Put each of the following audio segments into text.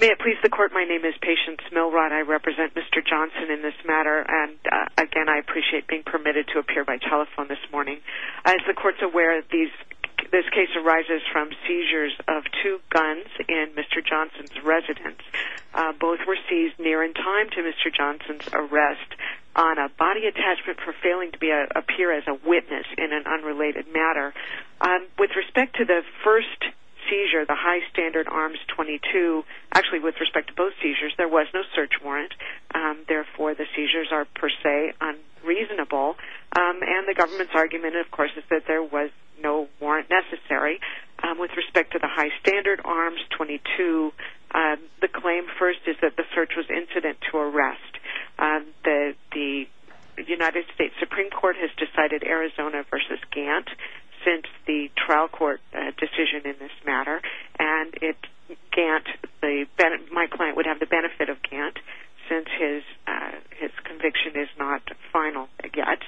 May it please the court, my name is Patience Milrod. I represent Mr. Johnson in this matter and again I appreciate being permitted to appear by telephone this morning. As the court is aware, this case arises from seizures of two guns in Mr. Johnson's residence. Both were seized near in time to Mr. Johnson's arrest on a body attachment for failing to appear as a witness in an unrelated matter. With respect to the first seizure, the high standard arms 22, actually with respect to both seizures, there was no search warrant. Therefore the seizures are per se unreasonable and the government's argument of course is that there was no warrant necessary. With respect to the high standard arms 22, the claim first is that the search was incident to arrest. The United States Supreme Court has decided Arizona v. Gantt since the trial court decision in this matter. My client would have the benefit of Gantt since his conviction is not final yet.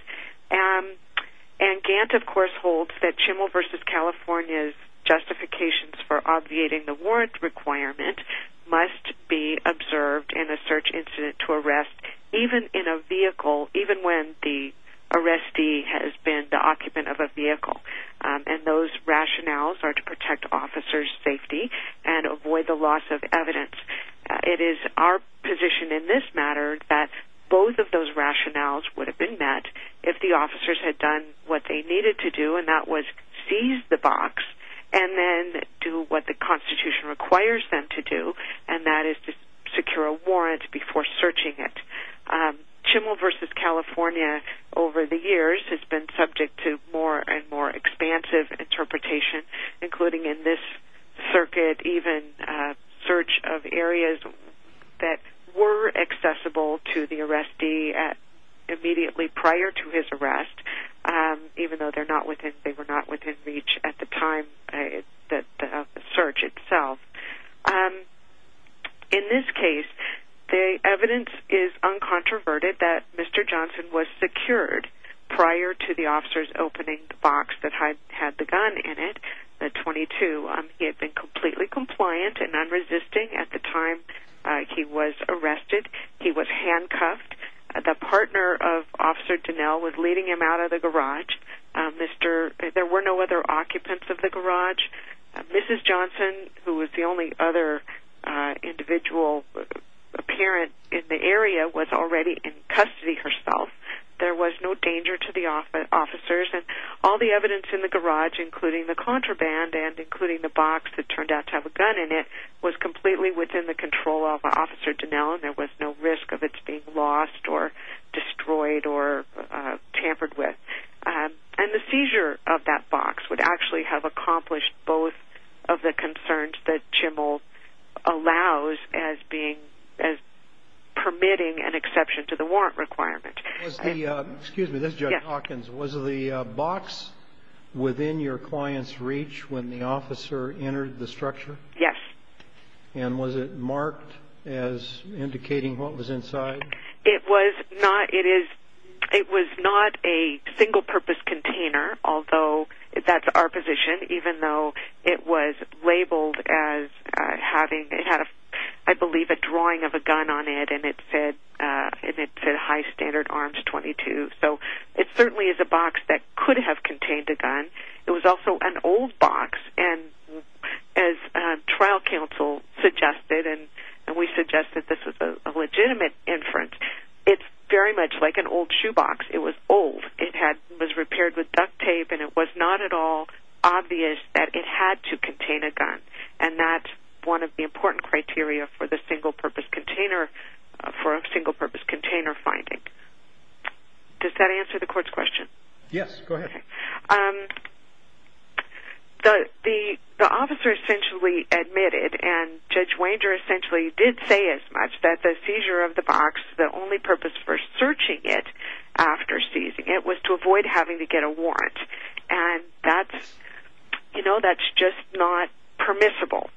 Gantt of course holds that Chimel v. California's justifications for obviating the warrant requirement must be observed in a search incident to arrest even in a vehicle, even when the arrestee has been the occupant of a vehicle. Those rationales are to protect officer's safety and avoid the loss of evidence. It is our position in this matter that both of those rationales would have been met if the officers had done what they needed to do and that was seize the box and then do what the Constitution requires them to do and that is to secure a warrant before searching it. Chimel v. California over the years has been subject to more and more expansive interpretation including in this circuit even search of areas that were accessible to the arrestee immediately prior to his arrest even though they were not within reach at the time of the search itself. In this case, the evidence is uncontroverted that Mr. Johnson was secured prior to the officers opening the box that had the gun in it He had been completely compliant and unresisting at the time he was arrested. He was handcuffed. The partner of officer Dinell was leading him out of the garage. There were no other occupants of the garage. Mrs. Johnson who was the only other individual apparent in the area was already in custody herself. There was no danger to the officers. All the evidence in the garage including the contraband and including the box that turned out to have a gun in it was completely within the control of officer Dinell and there was no risk of it being lost or destroyed or tampered with. The seizure of that box would actually have accomplished both of the concerns that Jimmel allows as permitting an exception to the warrant requirement. Was the box within your client's reach when the officer entered the structure? Yes. Was it marked as indicating what was inside? It was not a single purpose container although that's our position even though it was labeled as having I believe it had a drawing of a gun on it and it said high standard arms 22. It certainly is a box that could have contained a gun. It was also an old box and as trial counsel suggested and we suggest that this is a legitimate inference, it's very much like an old shoe box. It was old. It was repaired with duct tape and it was not at all obvious that it had to contain a gun and that's one of the important criteria for a single purpose container finding. Does that answer the court's question? Yes. Go ahead. The officer essentially admitted and Judge Wanger essentially did say as much that the seizure of the box, the only purpose for searching it after seizing it was to avoid having to get a warrant and that's just not permissible.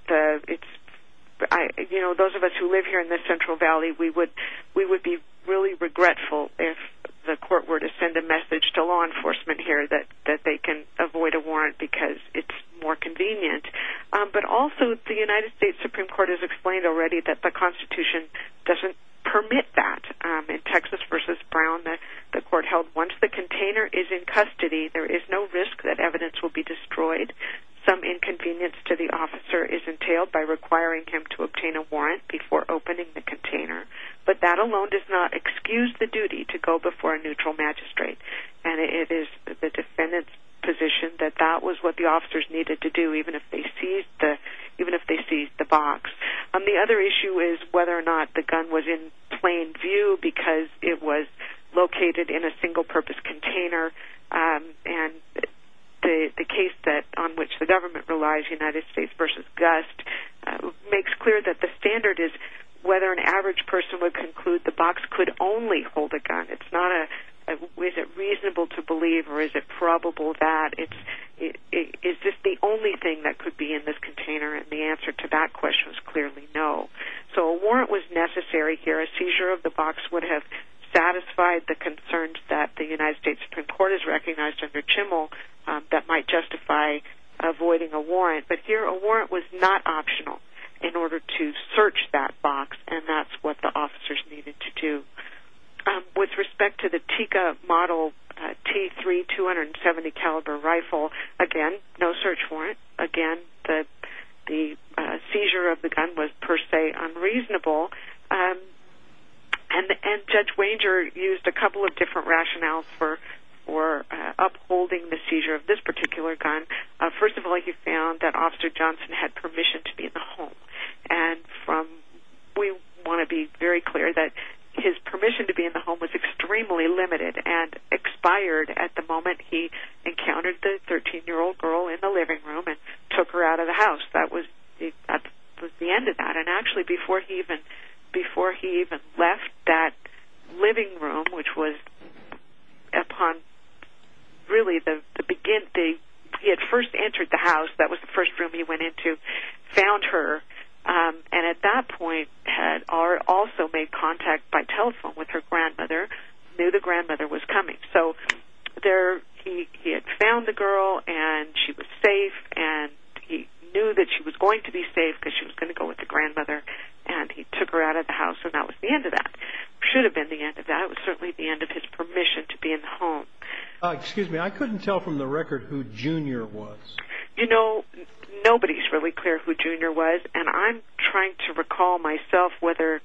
Those of us who live here in the Central Valley, we would be really regretful if the court were to send a message to law enforcement here that they can avoid a warrant because it's more convenient. But also the United States Supreme Court has explained already that the Constitution doesn't permit that. In Texas v. Brown, the court held once the container is in custody, some inconvenience to the officer is entailed by requiring him to obtain a warrant before opening the container. But that alone does not excuse the duty to go before a neutral magistrate and it is the defendant's position that that was what the officers needed to do even if they seized the box. The other issue is whether or not the gun was in plain view because it was located in a single purpose container and the case on which the government relies, United States v. Gust, makes clear that the standard is whether an average person would conclude the box could only hold a gun. It's not a, is it reasonable to believe or is it probable that? Is this the only thing that could be in this container? And the answer to that question is clearly no. So a warrant was necessary here. A seizure of the box would have satisfied the concerns that the United States Supreme Court has recognized under Chimmel that might justify avoiding a warrant. But here a warrant was not optional in order to search that box and that's what the officers needed to do. With respect to the Tikka Model T3 270 caliber rifle, again, no search warrant. Again, the seizure of the gun was per se unreasonable and Judge Wanger used a couple of different rationales for upholding the seizure of this particular gun. First of all, he found that Officer Johnson had permission to be in the home and we want to be very clear that his permission to be in the home was extremely limited and expired at the moment he encountered the 13-year-old girl in the living room and took her out of the house. That was the end of that. And actually before he even left that living room, which was upon really the beginning, he had first entered the house, that was the first room he went into, found her, and at that point had also made contact by telephone with her grandmother, knew the grandmother was coming. So there he had found the girl and she was safe and he knew that she was going to be safe because she was going to go with the grandmother and he took her out of the house and that was the end of that. It should have been the end of that. It was certainly the end of his permission to be in the home. Excuse me, I couldn't tell from the record who Junior was. You know, nobody's really clear who Junior was and I'm trying to recall myself whether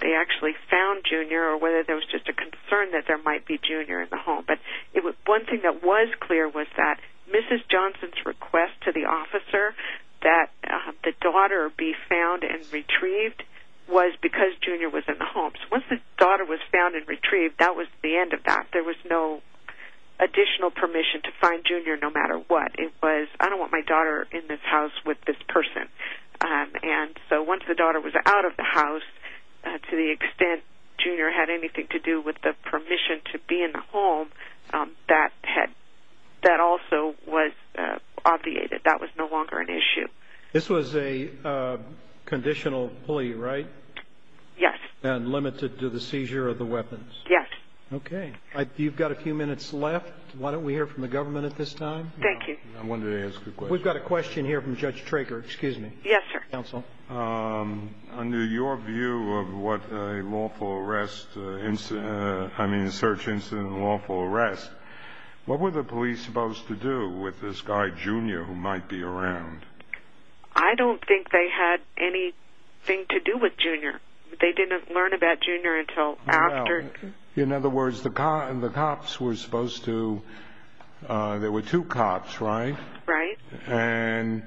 they actually found Junior or whether there was just a concern that there might be Junior in the home. But one thing that was clear was that Mrs. Johnson's request to the officer that the daughter be found and retrieved was because Junior was in the home. So once the daughter was found and retrieved, that was the end of that. There was no additional permission to find Junior no matter what. It was, I don't want my daughter in this house with this person. And so once the daughter was out of the house, to the extent Junior had anything to do with the permission to be in the home, that also was obviated. That was no longer an issue. This was a conditional plea, right? Yes. And limited to the seizure of the weapons? Yes. Okay. You've got a few minutes left. Why don't we hear from the government at this time? Thank you. I wanted to ask a question. We've got a question here from Judge Traker. Excuse me. Yes, sir. Counsel. Under your view of what a lawful arrest, I mean a search incident and lawful arrest, what were the police supposed to do with this guy Junior who might be around? I don't think they had anything to do with Junior. They didn't learn about Junior until after. In other words, the cops were supposed to, there were two cops, right? Right. And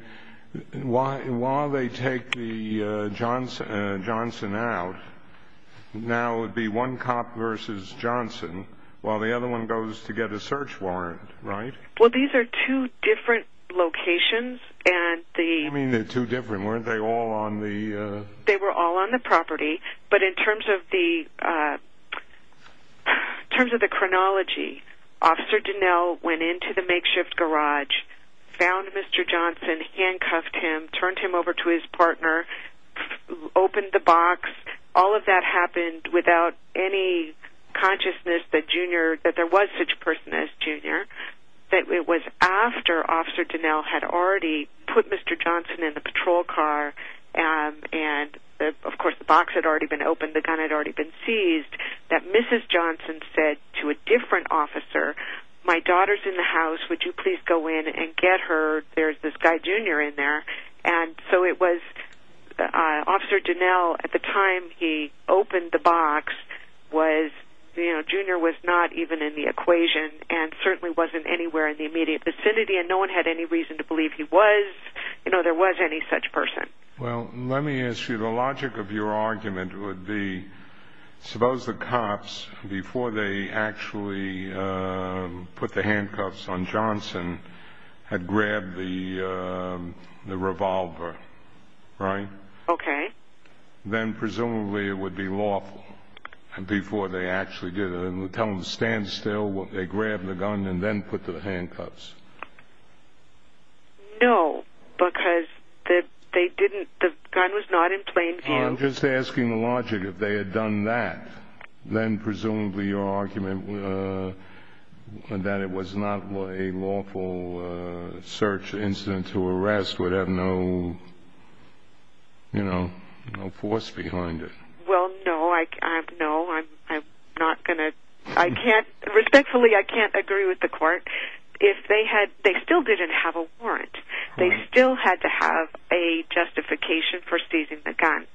while they take Johnson out, now it would be one cop versus Johnson while the other one goes to get a search warrant, right? Well, these are two different locations. What do you mean they're two different? Weren't they all on the? They were all on the property. But in terms of the chronology, Officer Donnell went into the makeshift garage, found Mr. Johnson, handcuffed him, turned him over to his partner, opened the box. All of that happened without any consciousness that Junior, that there was such a person as Junior, that it was after Officer Donnell had already put Mr. Johnson in the patrol car and, of course, the box had already been opened, the gun had already been seized, that Mrs. Johnson said to a different officer, my daughter's in the house, would you please go in and get her? There's this guy Junior in there. And so it was Officer Donnell, at the time he opened the box, Junior was not even in the equation and certainly wasn't anywhere in the immediate vicinity and no one had any reason to believe he was, you know, there was any such person. Well, let me ask you, the logic of your argument would be, suppose the cops, before they actually put the handcuffs on Johnson, had grabbed the revolver, right? Okay. Then presumably it would be lawful before they actually did it. Would you tell them to stand still when they grabbed the gun and then put the handcuffs? No, because they didn't, the gun was not in plain view. I'm just asking the logic, if they had done that, then presumably your argument that it was not a lawful search incident to arrest would have no, you know, no force behind it. Well, no, I'm not going to, I can't, respectfully I can't agree with the court. If they had, they still didn't have a warrant. They still had to have a justification for seizing the gun.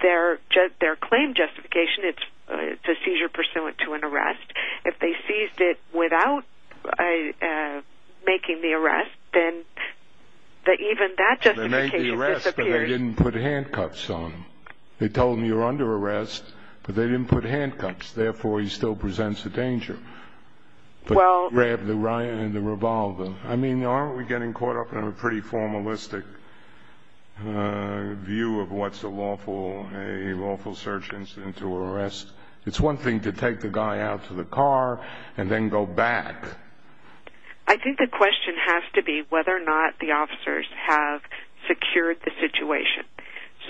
Their claim justification, it's a seizure pursuant to an arrest. If they seized it without making the arrest, then even that justification disappears. They made the arrest but they didn't put handcuffs on him. They told him you're under arrest but they didn't put handcuffs, therefore he still presents a danger. But he grabbed the revolver. I mean, aren't we getting caught up in a pretty formalistic view of what's a lawful search incident to arrest? It's one thing to take the guy out to the car and then go back. I think the question has to be whether or not the officers have secured the situation.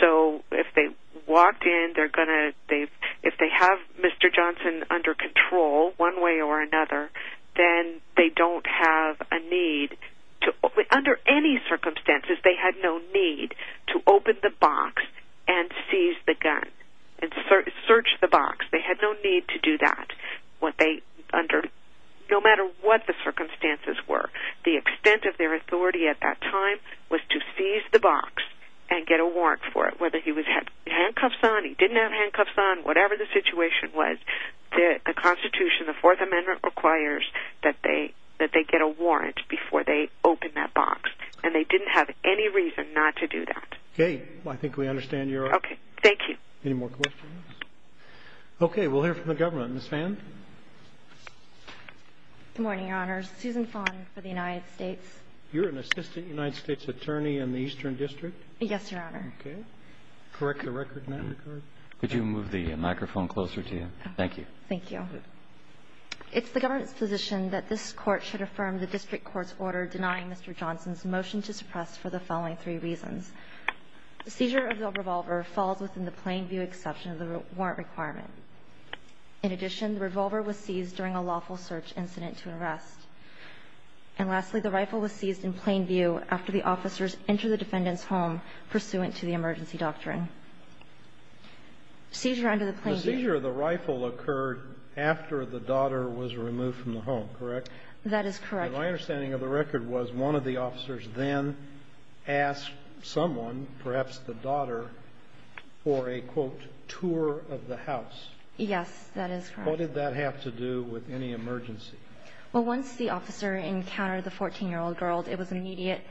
So if they walked in, they're going to, if they have Mr. Johnson under control one way or another, then they don't have a need to, under any circumstances, they had no need to open the box and seize the gun and search the box. They had no need to do that no matter what the circumstances were. The extent of their authority at that time was to seize the box and get a warrant for it. Whether he had handcuffs on, he didn't have handcuffs on, whatever the situation was, the Constitution, the Fourth Amendment, requires that they get a warrant before they open that box. And they didn't have any reason not to do that. Okay. I think we understand your argument. Okay. Thank you. Any more questions? Okay. We'll hear from the government. Ms. Phan? Good morning, Your Honors. Susan Phan for the United States. You're an assistant United States attorney in the Eastern District? Yes, Your Honor. Okay. Correct the record now? Could you move the microphone closer to you? Thank you. Thank you. It's the government's position that this Court should affirm the district court's order denying Mr. Johnson's motion to suppress for the following three reasons. The seizure of the revolver falls within the plain view exception of the warrant requirement. In addition, the revolver was seized during a lawful search incident to arrest. And lastly, the rifle was seized in plain view after the officers entered the defendant's home pursuant to the emergency doctrine. Seizure under the plain view. The seizure of the rifle occurred after the daughter was removed from the home, correct? That is correct. My understanding of the record was one of the officers then asked someone, perhaps the daughter, for a, quote, tour of the house. Yes, that is correct. What did that have to do with any emergency? Well, once the officer encountered the 14-year-old girl, it was immediate.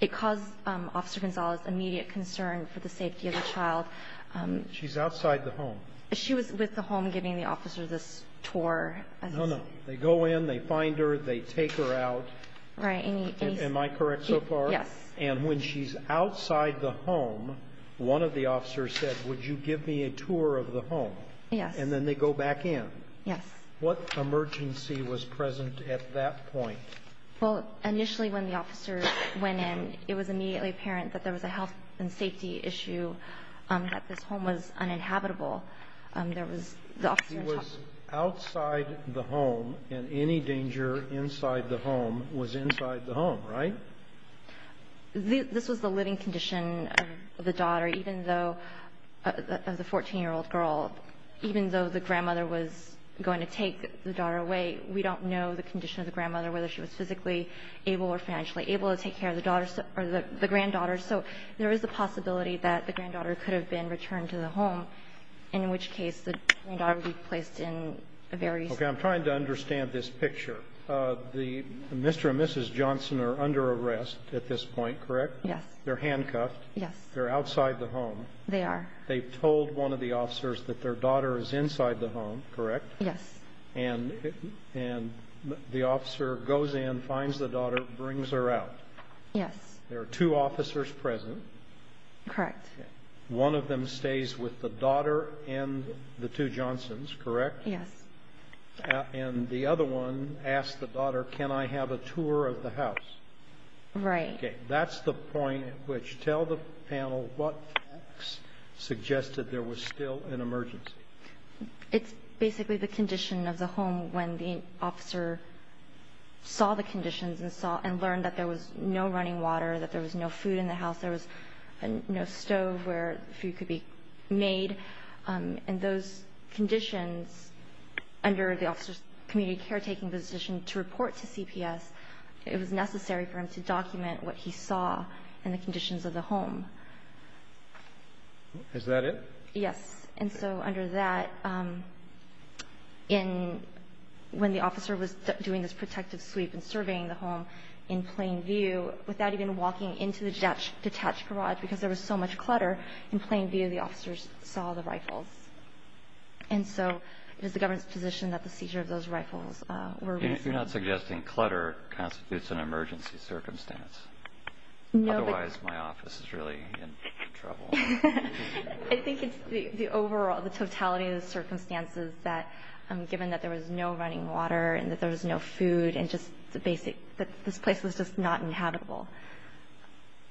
It caused Officer Gonzalez immediate concern for the safety of the child. She's outside the home? She was with the home giving the officer this tour. No, no. They go in, they find her, they take her out. Right. Am I correct so far? Yes. And when she's outside the home, one of the officers said, would you give me a tour of the home? Yes. And then they go back in. Yes. What emergency was present at that point? Well, initially when the officer went in, it was immediately apparent that there was a health and safety issue, that this home was uninhabitable. There was the officer in charge. She was outside the home, and any danger inside the home was inside the home, right? This was the living condition of the daughter, even though, of the 14-year-old girl. Even though the grandmother was going to take the daughter away, we don't know the condition of the grandmother, whether she was physically able or financially able to take care of the granddaughter. So there is a possibility that the granddaughter could have been returned to the home, in which case the granddaughter would be placed in a very- Okay. I'm trying to understand this picture. The Mr. and Mrs. Johnson are under arrest at this point, correct? Yes. They're handcuffed. Yes. They're outside the home. They are. They told one of the officers that their daughter is inside the home, correct? Yes. And the officer goes in, finds the daughter, brings her out. Yes. There are two officers present. Correct. One of them stays with the daughter and the two Johnsons, correct? Yes. And the other one asks the daughter, can I have a tour of the house? Right. Okay. That's the point at which, tell the panel what facts suggested there was still an emergency. It's basically the condition of the home when the officer saw the conditions and learned that there was no running water, that there was no food in the house, there was no stove where food could be made. And those conditions, under the officer's community caretaking position to report to CPS, it was necessary for him to document what he saw and the conditions of the home. Is that it? Yes. And so under that, when the officer was doing this protective sweep and surveying the home in plain view, without even walking into the detached garage because there was so much clutter, in plain view the officers saw the rifles. And so it is the government's position that the seizure of those rifles were reasonable. You're not suggesting clutter constitutes an emergency circumstance? No. Otherwise my office is really in trouble. I think it's the overall, the totality of the circumstances that given that there was no running water and that there was no food and just the basic that this place was just not inhabitable.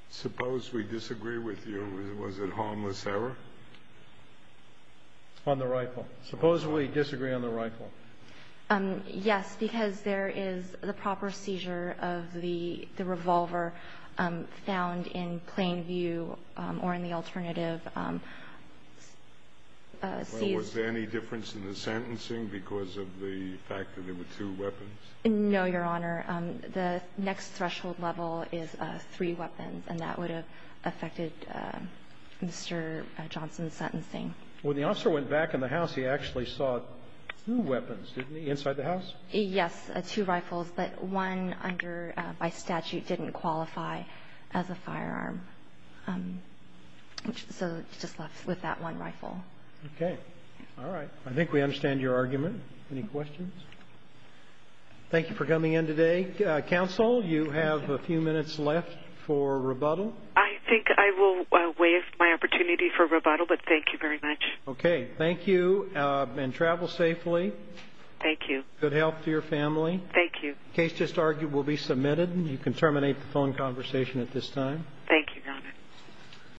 Suppose we disagree with you. Was it harmless error? On the rifle. Suppose we disagree on the rifle. Yes, because there is the proper seizure of the revolver found in plain view or in the alternative. Was there any difference in the sentencing because of the fact that there were two weapons? No, Your Honor. The next threshold level is three weapons, and that would have affected Mr. Johnson's sentencing. When the officer went back in the house, he actually saw two weapons, didn't he, inside the house? Yes, two rifles, but one by statute didn't qualify as a firearm, so it's just left with that one rifle. Okay. All right. I think we understand your argument. Any questions? Thank you for coming in today. Counsel, you have a few minutes left for rebuttal. I think I will waive my opportunity for rebuttal, but thank you very much. Okay. Thank you, and travel safely. Thank you. Good health to your family. Thank you. The case just argued will be submitted. You can terminate the phone conversation at this time. Thank you, Your Honor.